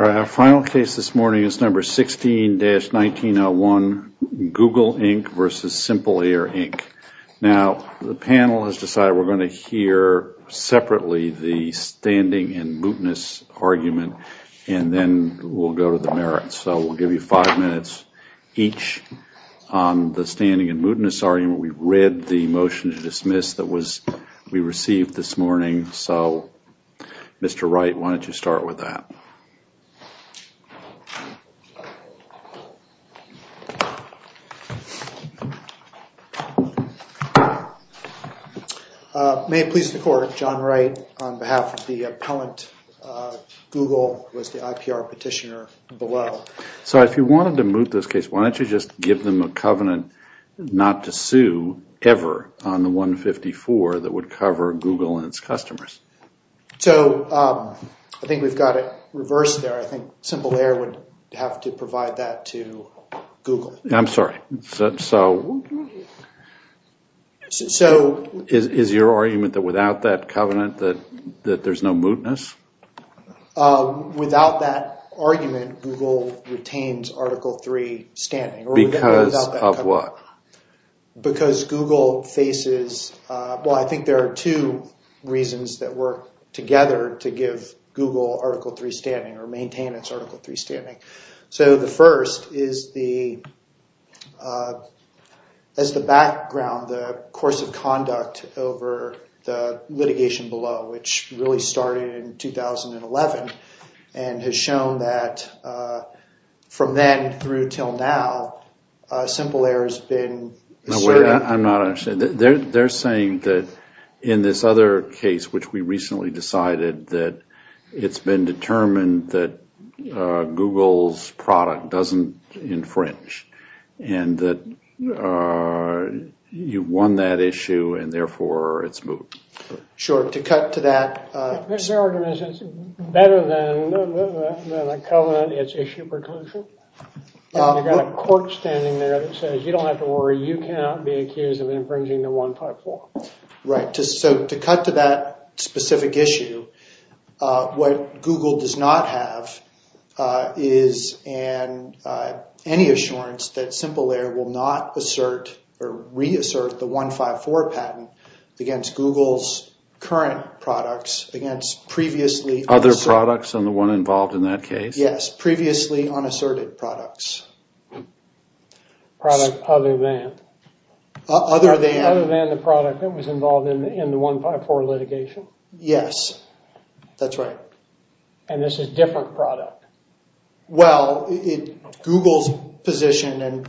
All right, our final case this morning is number 16-1901, Google, Inc. versus Simple Air, Inc. Now, the panel has decided we're going to hear separately the standing and mootness argument and then we'll go to the merits. So we'll give you five minutes each on the standing and mootness argument. We read the motion to dismiss that we received this morning, so Mr. Wright, why don't you start with that? May it please the Court, John Wright on behalf of the appellant, Google was the IPR petitioner below. So if you wanted to moot this case, why don't you just give them a covenant not to sue ever on the 154 that would cover Google and its customers? So I think we've got it reversed there. I think Simple Air would have to provide that to Google. I'm sorry. Is your argument that without that covenant that there's no mootness? Without that argument, Google retains Article 3 standing. Because of what? Because Google faces, well, I think there are two reasons that work together to give Google Article 3 standing or maintain its Article 3 standing. So the first is the background, the course of conduct over the litigation below, which really started in 2011, and has shown that from then through till now, Simple Air has No, wait. I'm not understanding. They're saying that in this other case, which we recently decided that it's been determined that Google's product doesn't infringe, and that you've won that issue and therefore it's moot. Sure. So to cut to that. Is your argument that it's better than a covenant, it's issue preclusion? You've got a court standing there that says you don't have to worry, you cannot be accused of infringing the 154. Right. So to cut to that specific issue, what Google does not have is any assurance that Simple Air is a product other than the 154 litigation? Yes. That's right. And this is a different product? Well, Google's position is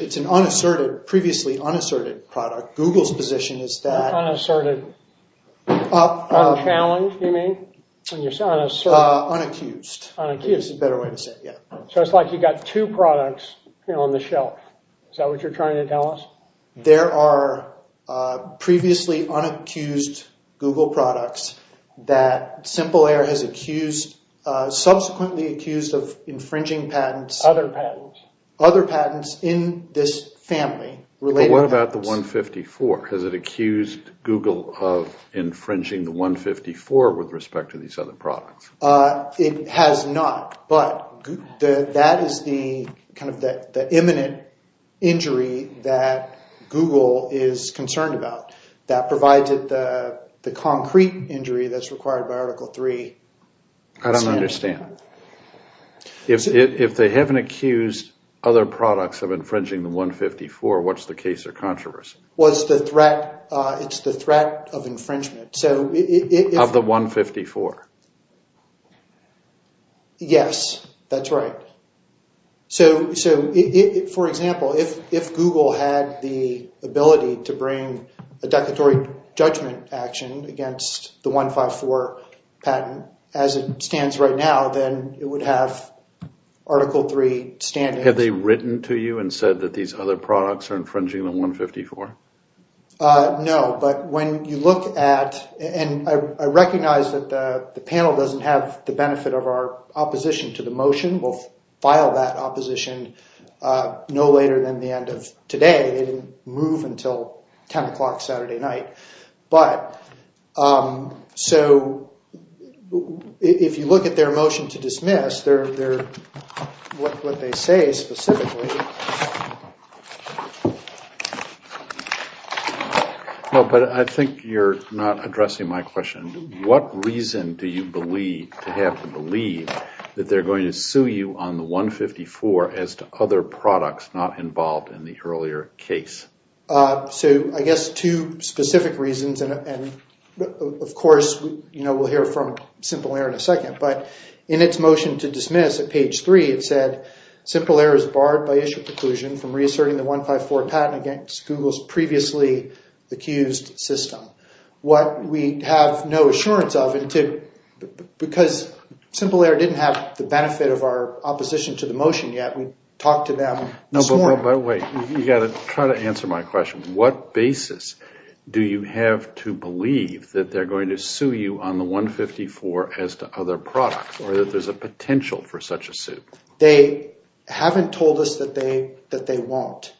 that it's an unasserted, previously unasserted product. Google's position is that... Unasserted. Unchallenged, you mean? Unaccused. Unaccused. That's a better way to say it, yeah. So it's like you've got two products on the shelf. Is that what you're trying to tell us? There are previously unaccused Google products that Simple Air has accused, subsequently accused of infringing patents. Other patents. Other patents in this family. But what about the 154? Has it accused Google of infringing the 154 with respect to these other products? It has not, but that is the imminent injury that Google is concerned about. That provides it the concrete injury that's required by Article 3. I don't understand. If they haven't accused other products of infringing the 154, what's the case or controversy? It's the threat of infringement. Of the 154? Yes, that's right. So, for example, if Google had the ability to bring a declaratory judgment action against the 154 patent as it stands right now, then it would have Article 3 standing. Have they written to you and said that these other products are infringing the 154? No, but when you look at, and I recognize that the panel doesn't have the benefit of our opposition to the motion. We'll file that opposition no later than the end of today. They didn't move until 10 o'clock Saturday night. But, so, if you look at their motion to dismiss, what they say specifically... No, but I think you're not addressing my question. What reason do you believe, to have to believe, that they're going to sue you on the 154 as to other products not involved in the earlier case? So, I guess two specific reasons. And, of course, we'll hear from Simple Air in a second. But, in its motion to dismiss, at page 3, it said, Simple Air is barred by issue preclusion from reasserting the 154 patent against Google's previously accused system. What we have no assurance of, because Simple Air didn't have the benefit of our opposition to the motion yet. We talked to them this morning. By the way, you've got to try to answer my question. What basis do you have to believe that they're going to sue you on the 154 as to other products, or that there's a potential for such a suit? They haven't told us that they won't.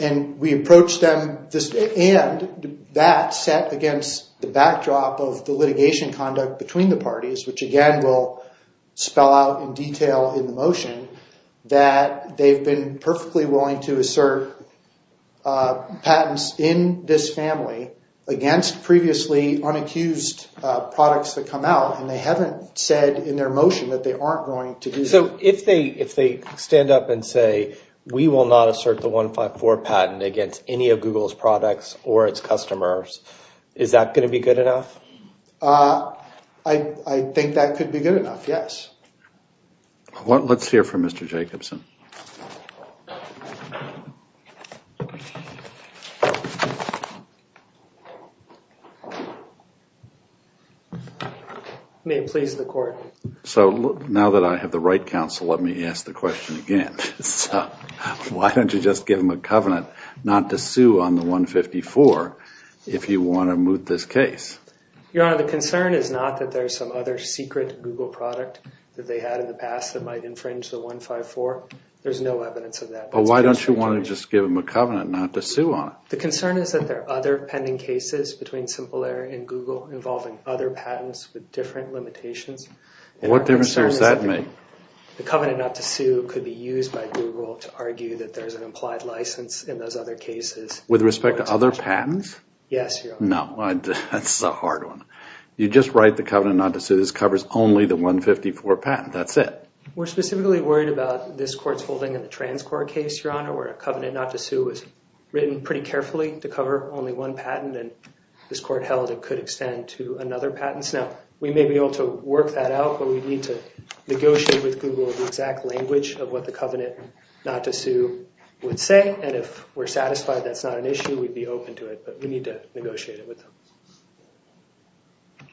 And we approached them, and that sat against the backdrop of the litigation conduct between the parties, which, again, we'll spell out in detail in the motion, that they've been perfectly willing to assert patents in this family against previously unaccused products that come out. And they haven't said in their motion that they aren't going to do that. So, if they stand up and say, we will not assert the 154 patent against any of Google's products or its customers, is that going to be good enough? I think that could be good enough, yes. Let's hear from Mr. Jacobson. May it please the court. So, now that I have the right counsel, let me ask the question again. Why don't you just give them a covenant not to sue on the 154 if you want to moot this case? Your Honor, the concern is not that there's some other secret Google product that they had in the past that might infringe the 154. There's no evidence of that. But why don't you want to just give them a covenant not to sue on it? The concern is that there are other pending cases between Simple Air and Google involving other patents with different limitations. What difference does that make? The covenant not to sue could be used by Google to argue that there's an implied license in those other cases. With respect to other patents? Yes, Your Honor. No, that's a hard one. You just write the covenant not to sue. This covers only the 154 patent. That's it. We're specifically worried about this court's holding in the TransCorp case, Your Honor, where a covenant not to sue was written pretty carefully to cover only one patent. And this court held it could extend to another patent. Now, we may be able to work that out, but we need to negotiate with Google the exact language of what the covenant not to sue would say. And if we're satisfied that's not an issue, we'd be open to it. But we need to negotiate it with them.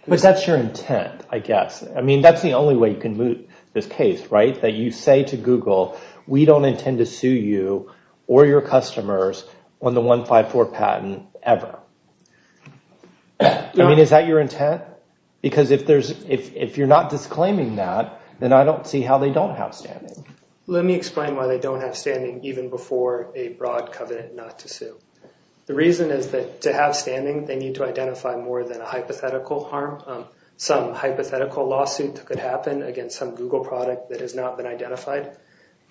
But that's your intent, I guess. I mean, that's the only way you can move this case, right? That you say to Google, we don't intend to sue you or your customers on the 154 patent ever. I mean, is that your intent? Because if you're not disclaiming that, then I don't see how they don't have standing. Let me explain why they don't have standing even before a broad covenant not to sue. The reason is that to have standing they need to identify more than a hypothetical harm. Some hypothetical lawsuit that could happen against some Google product that has not been identified.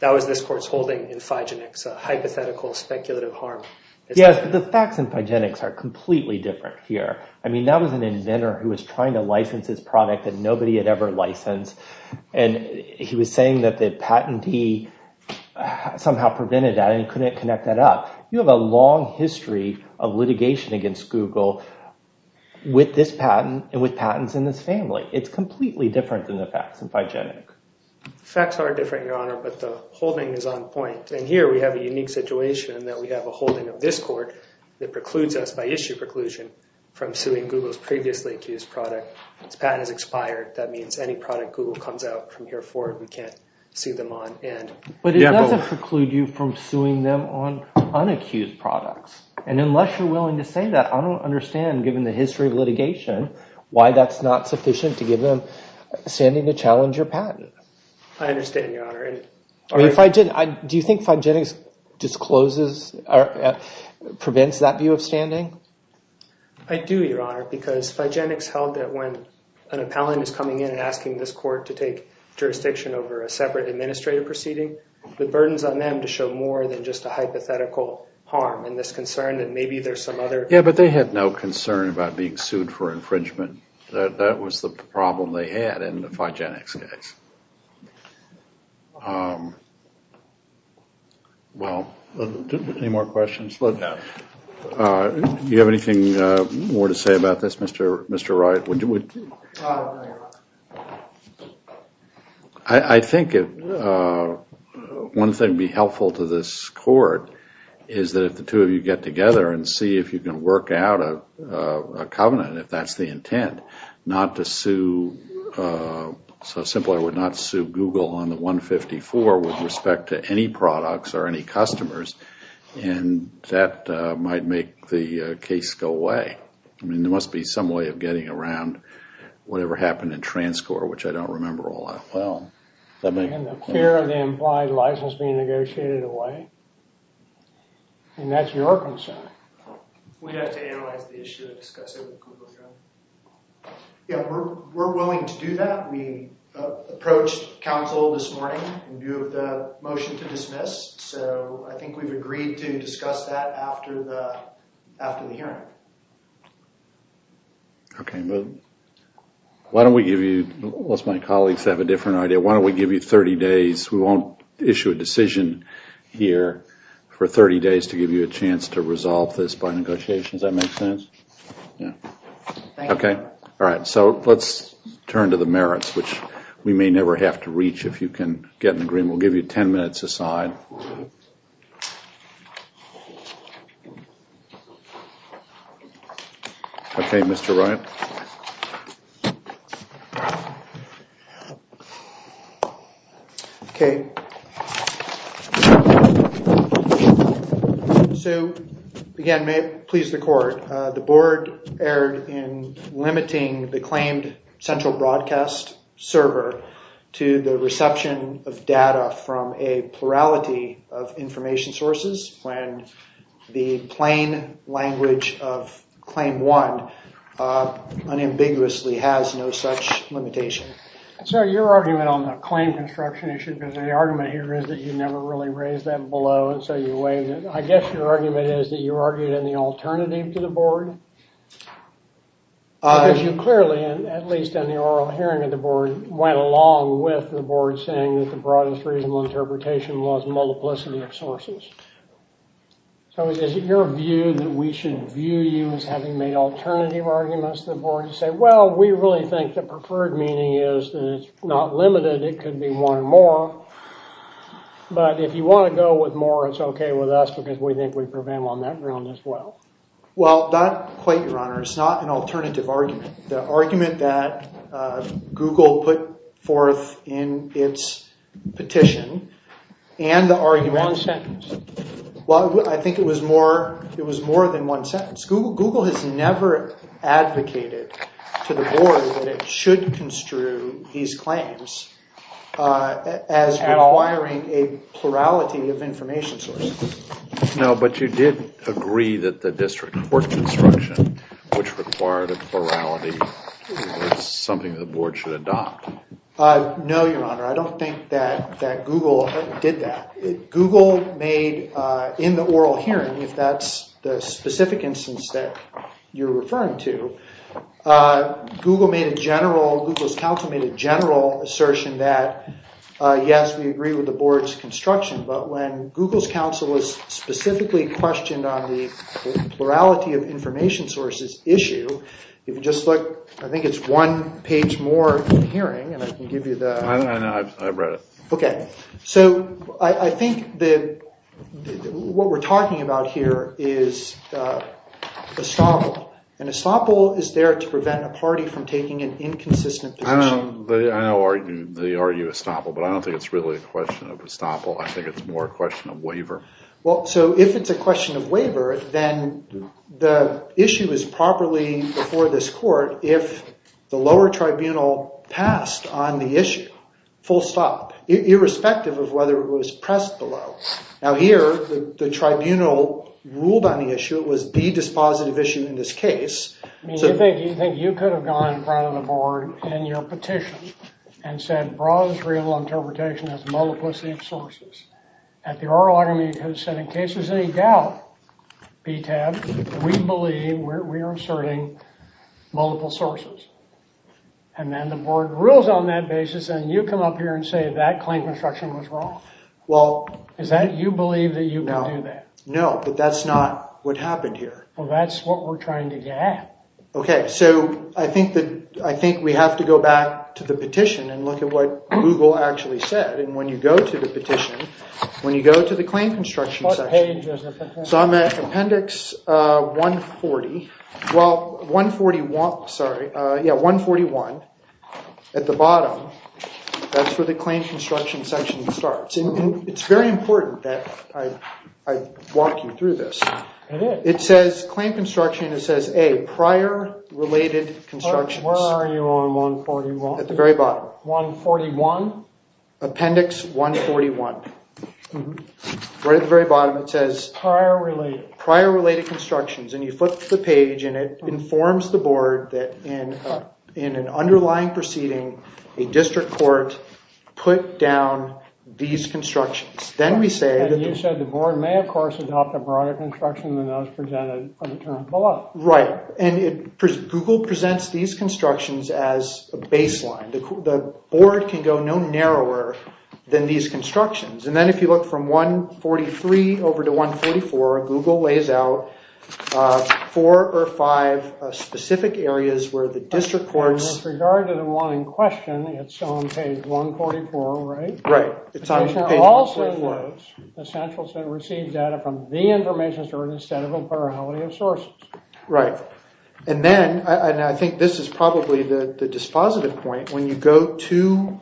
That was this court's holding in Phygenics, a hypothetical speculative harm. Yes, but the facts in Phygenics are completely different here. I mean, that was an inventor who was trying to license this product that nobody had ever licensed. And he was saying that the patentee somehow prevented that and he couldn't connect that up. You have a long history of litigation against Google with this patent and with patents in this family. It's completely different than the facts in Phygenics. The facts are different, Your Honor, but the holding is on point. And here we have a unique situation in that we have a holding of this court that precludes us by issue preclusion from suing Google's previously accused product. Its patent has expired. That means any product Google comes out from here for we can't sue them on. But it doesn't preclude you from suing them on unaccused products. And unless you're willing to say that, I don't understand, given the history of litigation, why that's not sufficient to give them standing to challenge your patent. I understand, Your Honor. Do you think Phygenics discloses or prevents that view of standing? I do, Your Honor, because Phygenics held that when an appellant is coming in and asking this court to take jurisdiction over a separate administrative proceeding, the burden is on them to show more than just a hypothetical harm in this concern that maybe there's some other... Yeah, but they had no concern about being sued for infringement. That was the problem they had in the Phygenics case. Well, any more questions? Do you have anything more to say about this, Mr. Wright? I think one thing that would be helpful to this court is that if the two of you get together and see if you can work out a covenant, if that's the intent, not to sue... So, simply, I would not sue Google on the 154 with respect to any products or any customers, and that might make the case go away. I mean, there must be some way of getting around whatever happened in Transcor, which I don't And the fear of the implied license being negotiated away. And that's your concern. We have to analyze the issue and discuss it with Google, John. Yeah, we're willing to do that. We approached counsel this morning in view of the motion to dismiss, so I think we've agreed to discuss that after the hearing. Why don't we give you... We won't issue a decision here for 30 days to give you a chance to resolve this by negotiation. Does that make sense? Yeah. Okay. Alright, so let's turn to the merits, which we may never have to reach if you can get an agreement. We'll give you 10 minutes aside. Okay, Mr. Wright. Okay. So, again, may it please the court, the board erred in limiting the claimed central broadcast server to the reception of data from a plurality of information sources when the plain language of Claim 1 unambiguously has no such limitation. Sir, your argument on the claim construction issue, because the argument here is that you never really raised that below, and so you waived it. I guess your argument is that you argued in the alternative to the board? Because you clearly, at least in the oral hearing of the board, went along with the board saying that the broadest reasonable interpretation was multiplicity of sources. So is it your view that we should view you as having made alternative arguments to the board to say, well, we really think the preferred meaning is that it's not limited, it could be one more, but if you want to go with more, it's okay with us because we think we prevailed on that ground as well. Well, not quite, your honor. It's not an alternative argument. The argument that Google put forth in its petition and the argument One sentence. I think it was more than one sentence. Google has never advocated to the board that it should construe these claims as requiring a plurality of information sources. No, but you did agree that the district court construction which required a plurality was something the board should adopt. No, your honor. I don't think that Google did that. Google made in the oral hearing, if that's the specific instance that you're referring to, Google made a general, Google's counsel made a general assertion that yes, we agree with the board's construction but when Google's counsel was specifically questioned on the plurality of information sources issue, if you just look, I think it's one page more in the hearing. I know, I've read it. So, I think that what we're talking about here is estoppel, and estoppel is there to prevent a party from taking an inconsistent position. I know they argue estoppel but I don't think it's really a question of estoppel I think it's more a question of waiver. So, if it's a question of waiver then the issue is properly before this court if the lower tribunal passed on the issue full stop, irrespective of whether it was pressed below. Now here, the tribunal ruled on the issue, it was the dispositive issue in this case I mean, you think you could have gone in front of the board in your petition and said broad and trivial interpretation as multiplicity of sources at the oral argument you could have said in case there's any doubt BTAB, we believe we are asserting multiple sources and then the board rules on that basis and you come up here and say that claim construction was wrong? Is that you believe that you can do that? No, but that's not what happened here. Well, that's what we're trying to get at. Okay, so I think that I think we have to go back to the petition and look at what Google actually said and when you go to the petition when you go to the claim construction section, so I'm at appendix 140 well, 141 sorry, yeah, 141 at the bottom that's where the claim construction section starts and it's very important that I walk you through this it says claim construction and it says A, prior related constructions. Where are you on 141? At the very bottom. 141? Appendix 141 right at the very bottom it says prior related constructions and you flip the page and it informs the board that in in an underlying proceeding a district court put down these constructions. Then we say the board may of course adopt a broader construction than those presented below. Right, and it Google presents these constructions as a baseline. The board can go no narrower than these constructions and then if you look from 143 over to 144 Google lays out four or five specific areas where the district courts. And with regard to the one in question it's on page 144 right? Right, it's on page 144. It also was essential to receive data from the information stored instead of a plurality of sources. Right, and then I think this is probably the dispositive point when you go to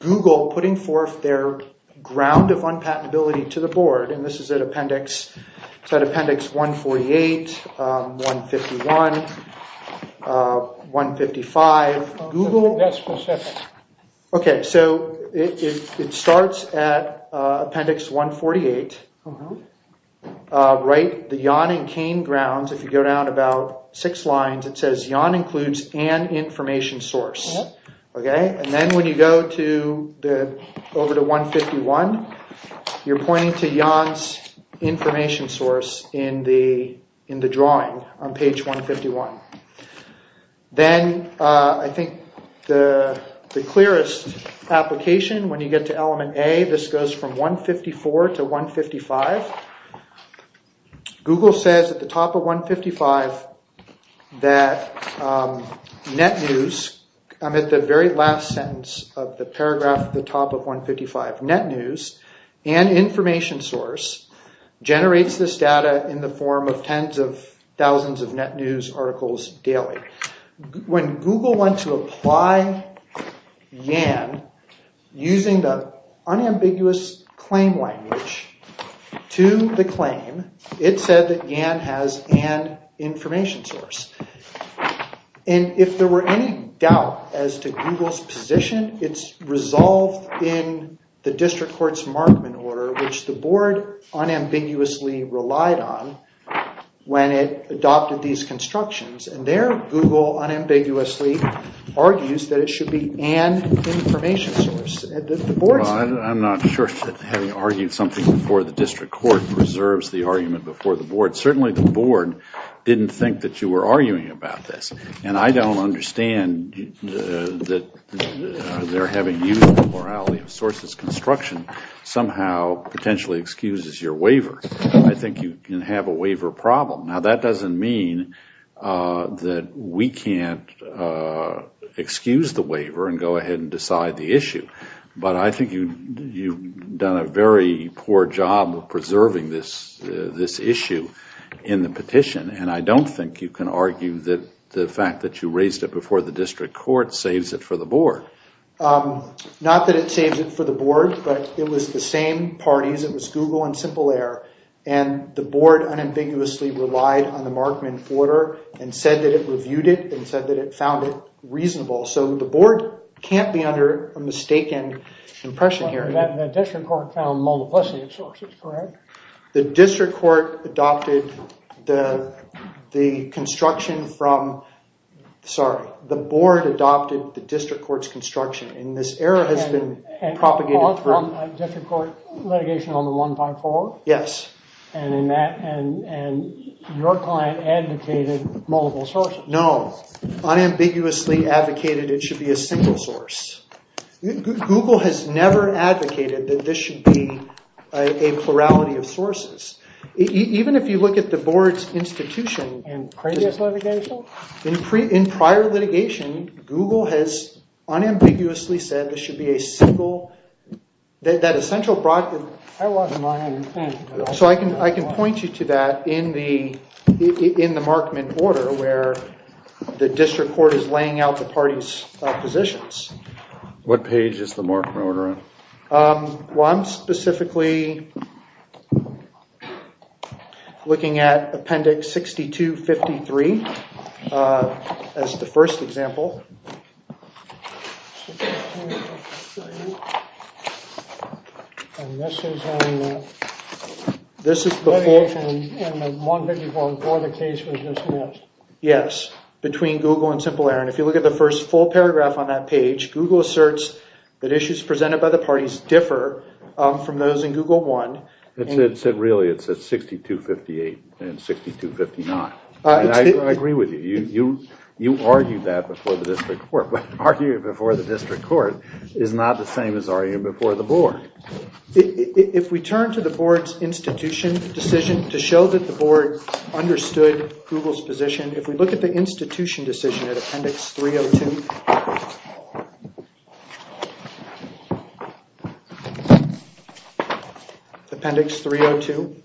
Google putting forth their ground of unpatentability to the board and this is at appendix it's at appendix 148 151 155 Google Okay, so it starts at appendix 148 Right, the Yon and Kane grounds if you go down about six lines it says Yon includes an information source. Okay, and then when you go to over to 151 you're pointing to Yon's information source in the drawing on page 151 Then I think the clearest application when you get to element A, this goes from 154 to 155 Google says at the top of 155 that net news, at the very last sentence of the paragraph at the top of 155, net news and information source generates this data in the form of tens of thousands of net news articles daily. When Google went to apply Yon using the unambiguous claim language to the claim it said that Yon has an information source and if there were any doubt as to Google's position, it's resolved in the district court's unambiguously relied on when it adopted these constructions and there Google unambiguously argues that it should be an information source. I'm not sure that having argued something before the district court preserves the argument before the board. Certainly the board didn't think that you were arguing about this and I don't understand that their having used the morality of sources construction somehow potentially excuses your waiver. I think you can have a waiver problem. Now that doesn't mean that we can't excuse the waiver and go ahead and decide the issue. But I think you've done a very poor job of preserving this issue in the petition and I don't think you can argue that the fact that you raised it before the district court saves it for the board. Not that it saves it for the board, but it was the same parties, it was Google and Simple Air and the board unambiguously relied on the Markman order and said that it reviewed it and said that it found it reasonable. So the board can't be under a mistaken impression here. The district court found multiplicity of sources correct? The district court adopted the construction from sorry, the board adopted the district court's construction and this error has been propagated from the district court litigation on the 154. Yes. And your client advocated multiple sources. No. Unambiguously advocated it should be a single source. Google has never advocated that this should be a plurality of sources. Even if you look at the board's institution In previous litigation? In prior litigation Google has unambiguously said this should be a single that essential I wasn't on anything. So I can point you to that in the Markman order where the district court is laying out the parties positions. What page is the Markman order on? Well I'm specifically looking at appendix 6253 as the first example This is before 154 before the case was dismissed. Yes. Between Google and Simple Error. And if you look at the first full paragraph on that page, Google asserts that issues presented by the parties differ from those in Google 1 It really says 6258 and 6259 I agree with you You argued that before the district court, but arguing before the district court is not the same as arguing before the board If we turn to the board's institution decision to show that the board understood Google's position, if we look at the institution decision at appendix 302 Appendix 302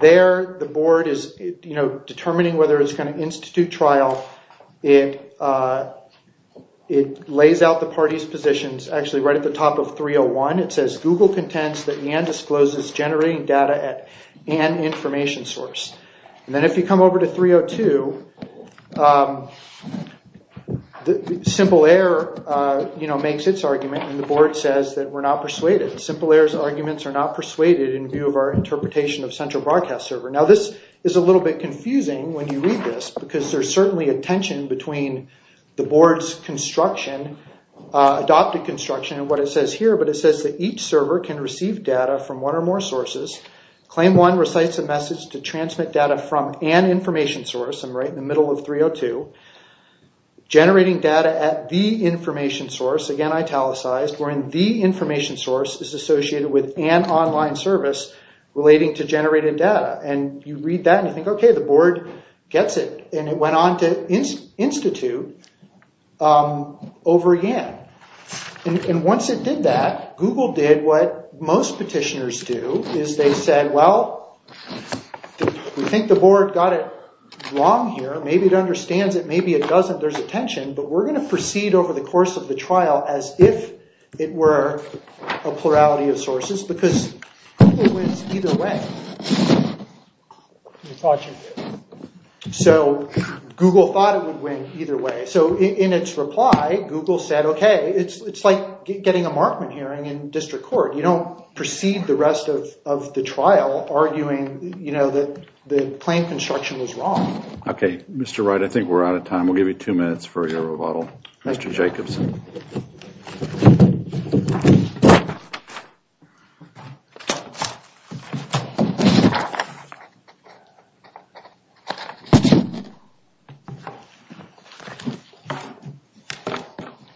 There the board is determining whether it's going to institute trial It lays out the parties positions actually right at the top of 301. It says Google contends that NAN discloses generating data at N information source Then if you come over to 302 Simple Error makes its argument and the board says that we're not persuaded. Simple Error's arguments are not persuaded in view of our interpretation of central broadcast server. Now this is a little bit confusing when you read this because there's certainly a tension between the board's construction adopted construction and what it says here, but it says that each server can receive data from one or more sources. Claim 1 recites a message to transmit data from an source to 302 generating data at the information source, again italicized, wherein the information source is associated with an online service relating to generated data. And you read that and you think, okay, the board gets it and it went on to institute over again and once it did that, Google did what most petitioners do is they said, well we think the board got it wrong here, maybe it understands it, maybe it doesn't, there's a tension, but we're going to proceed over the course of the trial as if it were a plurality of sources because Google wins either way. So Google thought it would win either way, so in its reply, Google said, okay it's like getting a Markman hearing in district court, you don't proceed the rest of the trial arguing that the claim construction was wrong. Okay, Mr. Wright, I think we're out of time we'll give you two minutes for your rebuttal. Mr. Jacobson.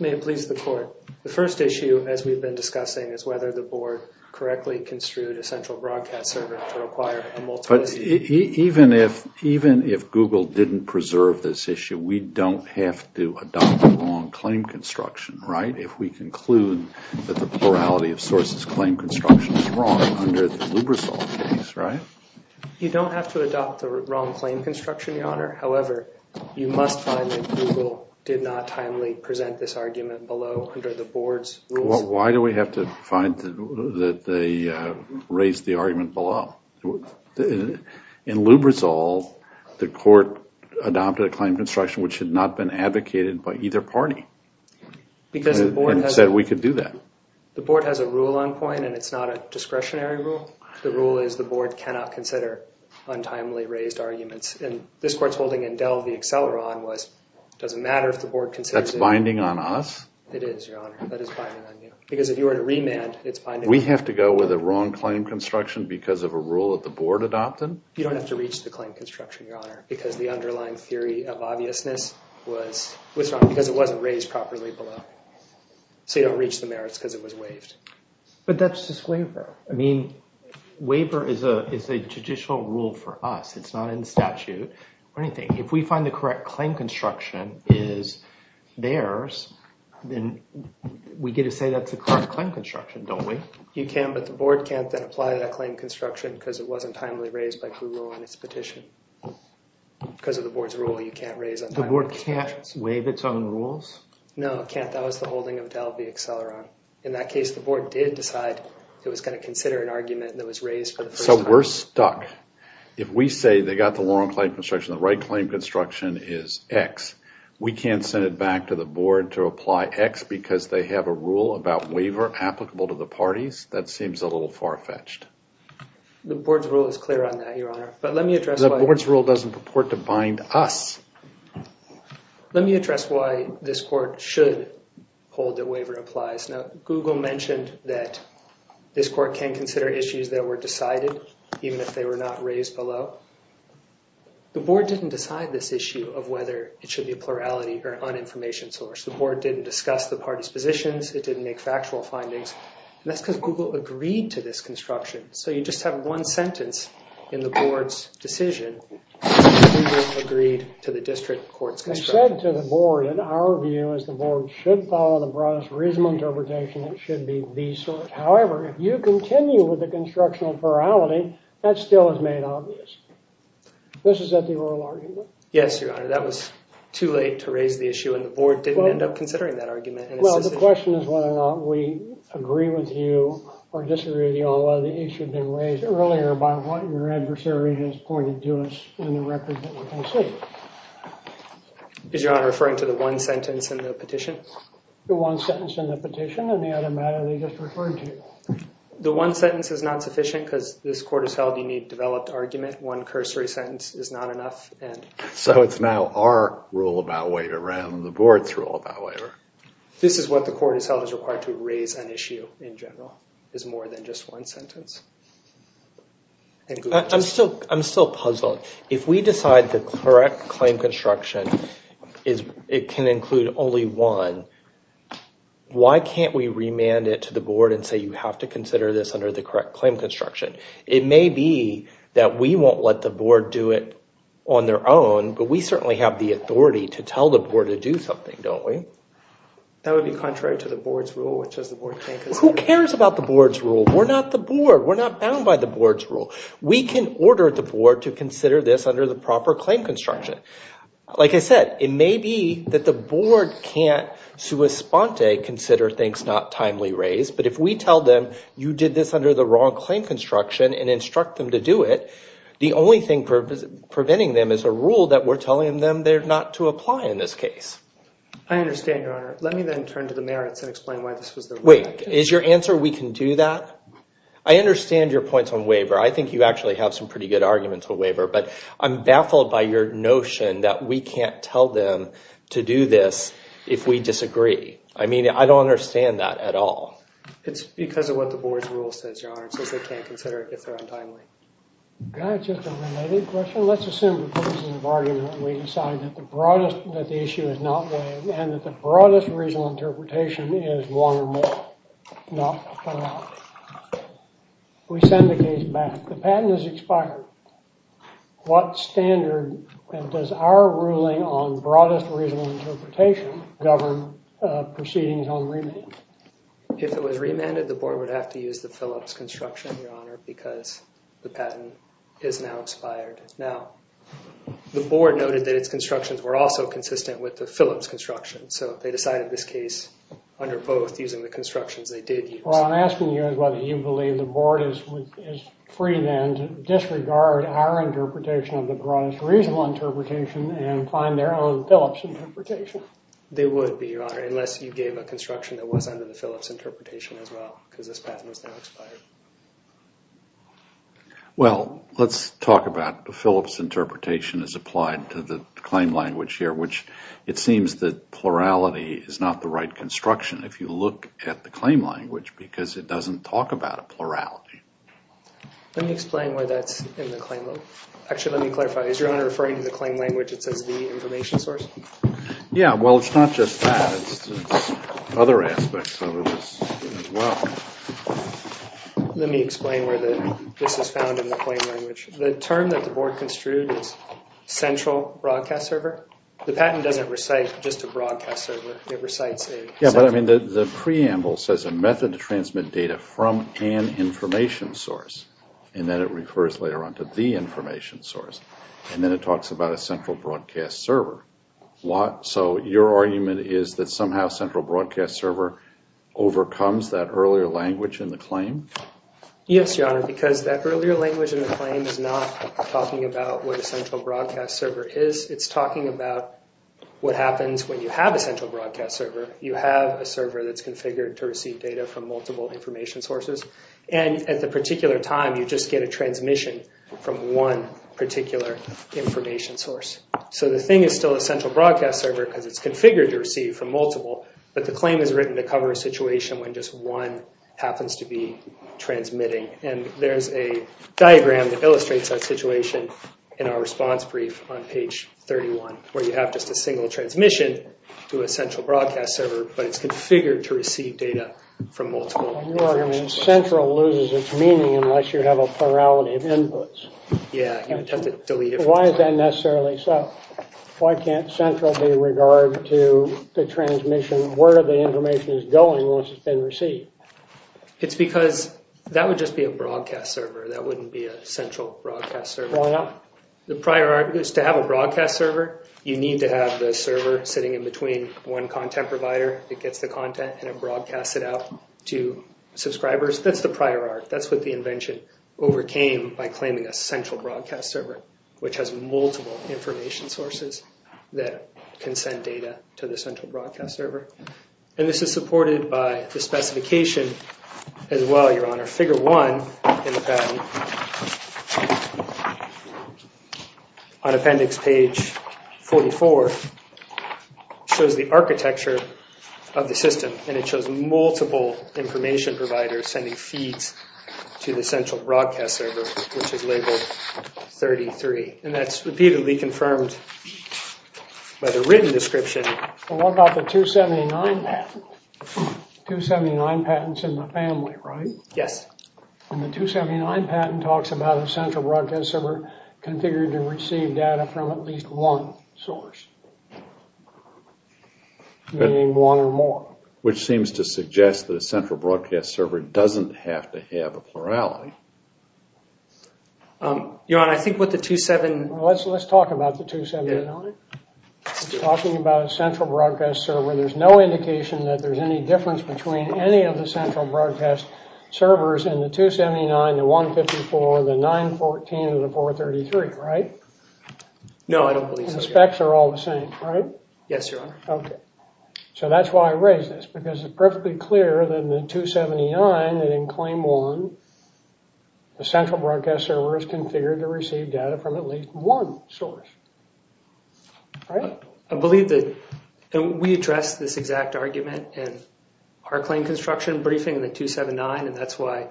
May it please the court, the first issue as we've been discussing is whether the board correctly construed a central broadcast server to require a multiplicity Even if Google didn't preserve this issue, we don't have to adopt the wrong claim construction, right? If we conclude that the plurality of sources claim construction is wrong under the Lubrizol case, right? You don't have to adopt the wrong claim construction, your honor, however you must find that Google did not timely present this argument below under the board's rules. Why do we have to find that they raised the argument below? In Lubrizol, the court adopted a claim construction which had not been advocated by either party and said we could do that. The board has a rule on point and it's not a discretionary rule the rule is the board cannot consider untimely raised arguments and this court's holding in Dell the acceleron was, it doesn't matter if the board considers it. That's binding on us? It is, your honor, that is binding on you. Because if you were to remand, it's binding. We have to go with a wrong claim construction because of a rule that the board adopted? You don't have to reach the claim construction, your honor because the underlying theory of obviousness was wrong because it wasn't raised properly below. So you don't reach the merits because it was waived. But that's just waiver. I mean waiver is a judicial rule for us. It's not in statute or anything. If we find the correct claim construction is theirs then we get to say that's the correct claim construction, don't we? You can, but the board can't then apply that claim construction because it wasn't timely raised by Google on its petition. Because of the board's rule, you can't raise untimely construction. The board can't waive its own rules? No, it can't. That was the holding of Dell v. Acceleron. In that case the board did decide it was going to consider an argument that was raised for the first time. So we're stuck. If we say they got the wrong claim construction, the right claim construction is X. We can't send it back to the board to apply X because they have a rule about waiver applicable to the parties? That seems a little far-fetched. The board's rule is clear on that, Your Honor. The board's rule doesn't purport to bind us. Let me address why this court should hold that waiver applies. Now, Google mentioned that this court can consider issues that were decided even if they were not raised below. The board didn't decide this issue of whether it should be a plurality or an uninformation source. The board didn't discuss the parties' positions. It didn't make factual findings. And that's because Google agreed to this construction. So you just have one sentence in the board's decision that Google agreed to the district court's construction. They said to the board that our view is the board should follow the broadest reasonable interpretation. It should be these sorts. However, if you continue with the construction of plurality that still is made obvious. This is at the oral argument. Yes, Your Honor. That was too late to raise the issue and the board didn't end up considering that argument. Well, the question is whether or not we agree with you or disagree with you on whether the issue had been raised earlier by what your adversary has pointed to us in the record that we can see. Is Your Honor referring to the one sentence in the petition? The one sentence in the petition and the other matter they just referred to. The one sentence is not sufficient because this one cursory sentence is not enough. So it's now our rule about waiver rather than the board's rule about waiver. This is what the court has held is required to raise an issue in general is more than just one sentence. I'm still puzzled. If we decide the correct claim construction can include only one, why can't we remand it to the board and say you have to consider this under the correct claim construction? It may be that we won't let the board do it on their own, but we certainly have the authority to tell the board to do something, don't we? That would be contrary to the board's rule, which is the board can't consider. Who cares about the board's rule? We're not the board. We're not bound by the board's rule. We can order the board to consider this under the proper claim construction. Like I said, it may be that the board can't sua sponte consider things not timely raised, but if we tell them you did this under the wrong claim construction and instruct them to do it, the only thing preventing them is a rule that we're telling them they're not to apply in this case. I understand, Your Honor. Let me then turn to the merits and explain why this was the rule. Wait, is your answer we can do that? I understand your points on waiver. I think you actually have some pretty good arguments for waiver, but I'm baffled by your notion that we can't tell them to do this if we disagree. I mean, I don't understand that at all. It's because of what the board's rule says, Your Honor. It says they can't consider it if they're untimely. Can I have just a related question? Let's assume that this is an argument and we decide that the broadest that the issue is not waived and that the broadest reasonable interpretation is one or more, not one or more. We send the case back. The patent is expired. What standard does our ruling on broadest reasonable interpretation govern proceedings on remand? If it was remanded, the board would have to use the Phillips construction, Your Honor, because the patent is now expired. Now, the board noted that its constructions were also consistent with the Phillips construction, so they decided this case under both using the constructions they did use. What I'm asking you is whether you believe the board is free then to disregard our interpretation of the broadest reasonable interpretation and find their own Phillips interpretation? They would be, Your Honor, unless you gave a construction that was under the Phillips interpretation as well, because this patent is now expired. Well, let's talk about the Phillips interpretation as applied to the claim language here, which it seems that plurality is not the right construction if you look at the claim language because it doesn't talk about a plurality. Let me explain why that's in the claim. Actually, let me clarify. Is Your Honor referring to the claim language that says the information source? Yeah, well, it's not just that. It's other aspects of it as well. Let me explain where this is found in the claim language. The term that the board construed is central broadcast server. The patent doesn't recite just a broadcast server. It recites a... The preamble says a method to transmit data from an information source, and then it refers later on to the information source. And then it talks about a central broadcast server. Your argument is that somehow central broadcast server overcomes that earlier language in the claim? Yes, Your Honor, because that earlier language in the claim is not talking about what a central broadcast server is. It's talking about what happens when you have a central broadcast server. You have a server that's configured to receive data from multiple information sources, and at the particular time, you just get a transmission from one particular information source. So the thing is still a central broadcast server because it's configured to receive from multiple, but the claim is written to cover a situation when just one happens to be transmitting. And there's a diagram that illustrates that situation in our response brief on page 31, where you have just a single transmission to a central broadcast server, but it's configured to receive data from multiple information sources. Your argument is central loses its plurality of inputs. Why is that necessarily so? Why can't central be regarded to the transmission, where the information is going once it's been received? It's because that would just be a broadcast server. That wouldn't be a central broadcast server. The prior argument is to have a broadcast server, you need to have the server sitting in between one content provider that gets the content, and it broadcasts it out to subscribers. That's the overcame by claiming a central broadcast server, which has multiple information sources that can send data to the central broadcast server. And this is supported by the specification as well, Your Honor. Figure 1 in the pattern on appendix page 44 shows the architecture of the system, and it shows multiple information providers sending feeds to the central broadcast server which is labeled 33. And that's repeatedly confirmed by the written description. What about the 279 patent? 279 patents in the family, right? Yes. And the 279 patent talks about a central broadcast server configured to receive data from at least one source. Meaning one or more. Which seems to suggest that a central broadcast server may have a plurality. Your Honor, I think what the 279... Let's talk about the 279. Talking about a central broadcast server, there's no indication that there's any difference between any of the central broadcast servers in the 279, the 154, the 914, or the 433, right? No, I don't believe so. The specs are all the same, right? Yes, Your Honor. Okay. So that's why I raised this, because it's perfectly clear that in the 279 and in Claim 1, the central broadcast server is configured to receive data from at least one source. I believe that we addressed this exact argument in our claim construction briefing in the 279, and that's why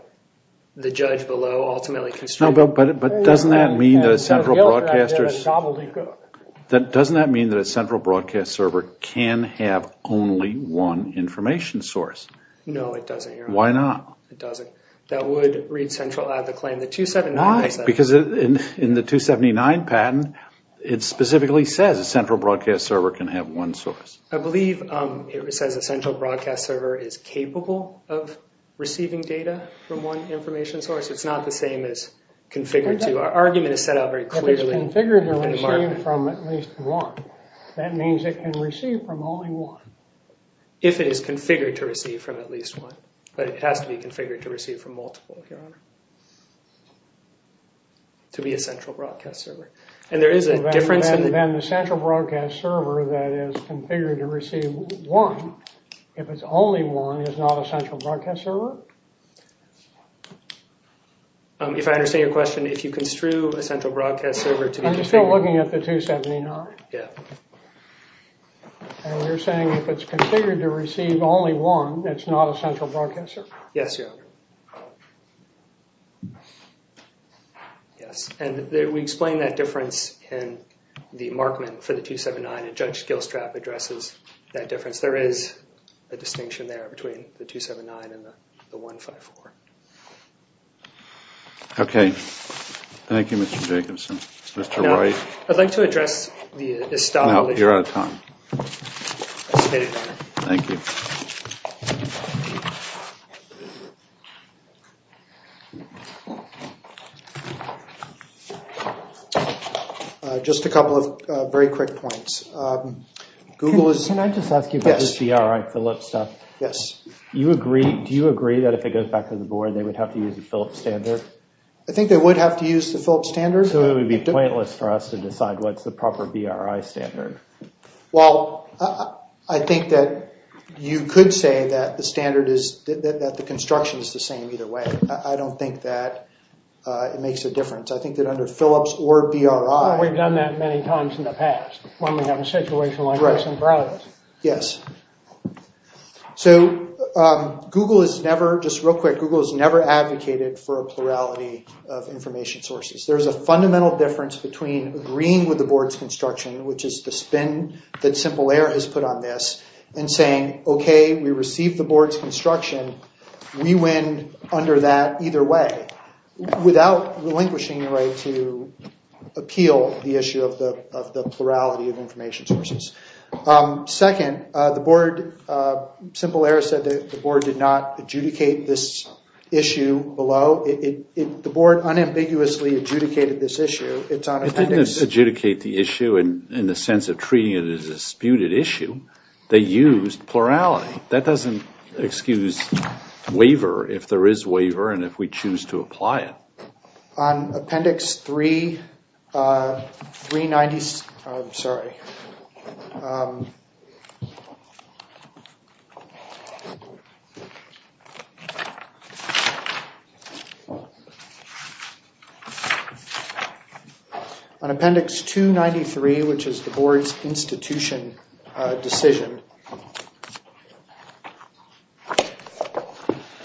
the judge below ultimately constructed... But doesn't that mean that a central broadcaster... Doesn't that mean that a central broadcast server can have only one information source? No, it doesn't, Your Honor. Why not? That would read central out of the claim. Why? Because in the 279 patent it specifically says a central broadcast server can have one source. I believe it says a central broadcast server is capable of receiving data from one information source. It's not the same as configured to. Our argument is set out very clearly. If it's configured to receive from at least one, that means it can receive from only one. If it is configured to receive from at least one. But it has to be configured to receive from multiple, Your Honor. To be a central broadcast server. And there is a difference in... Then the central broadcast server that is configured to receive one, if it's only one, is not a central broadcast server? If I understand your question, if you construe a central broadcast server to be... I'm still looking at the 279. Yeah. And you're saying if it's configured to receive only one, it's not a central broadcast server? Yes, Your Honor. Yes. And we explain that difference in the markment for the 279 and Judge Gilstrap addresses that difference. There is a distinction there between the 279 and the 154. Okay. Thank you, Mr. Jacobson. Mr. Wright. I'd like to address the establishment... No, you're out of time. Thank you. Just a couple of very quick points. Google is... Can I just ask you about the CRI Phillips stuff? Yes. Do you agree that if it goes back to the board, they would have to use the Phillips standard? I think they would have to use the Phillips standard. So it would be pointless for us to decide what's the proper BRI standard. Well, I think that you could say that the standard is... that the construction is the same either way. I don't think that it makes a difference. I think that under Phillips or BRI... We've done that many times in the past when we have a situation like this in progress. Yes. So, Google is never... Just real quick, Google has never advocated for a plurality of information sources. There's a fundamental difference between agreeing with the board's construction, which is the spin that Simple Air has put on this, and saying okay, we receive the board's construction, we win under that either way without relinquishing the right to appeal the issue of the plurality of information sources. Second, the board... Simple Air said that the board did not adjudicate this issue below. The board unambiguously adjudicated this issue. It didn't adjudicate the issue in the sense of treating it as a disputed issue. They used plurality. That doesn't excuse waiver if there is waiver and if we choose to apply it. On Appendix 3 390... I'm sorry. On Appendix 293, which is the board's institution decision,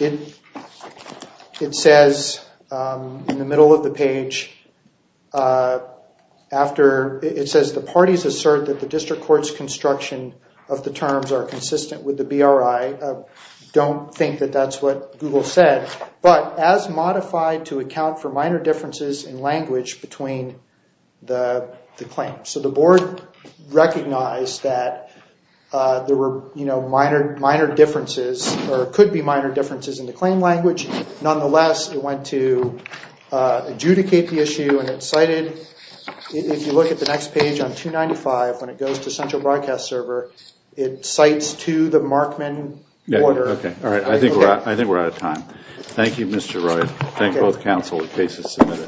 it says in the middle of the page after... It says the parties assert that the district court's construction of the terms are consistent with the BRI. Don't think that that's what the board is saying. That's what Google said, but as modified to account for minor differences in language between the claim. The board recognized that there were minor differences or could be minor differences in the claim language. Nonetheless, it went to adjudicate the issue and it cited... If you look at the next page on 295 when it goes to Central Broadcast Server, it cites to the Markman Order. I think we're out of time. Thank you, Mr. Roy. Thank both counsel. The case is submitted.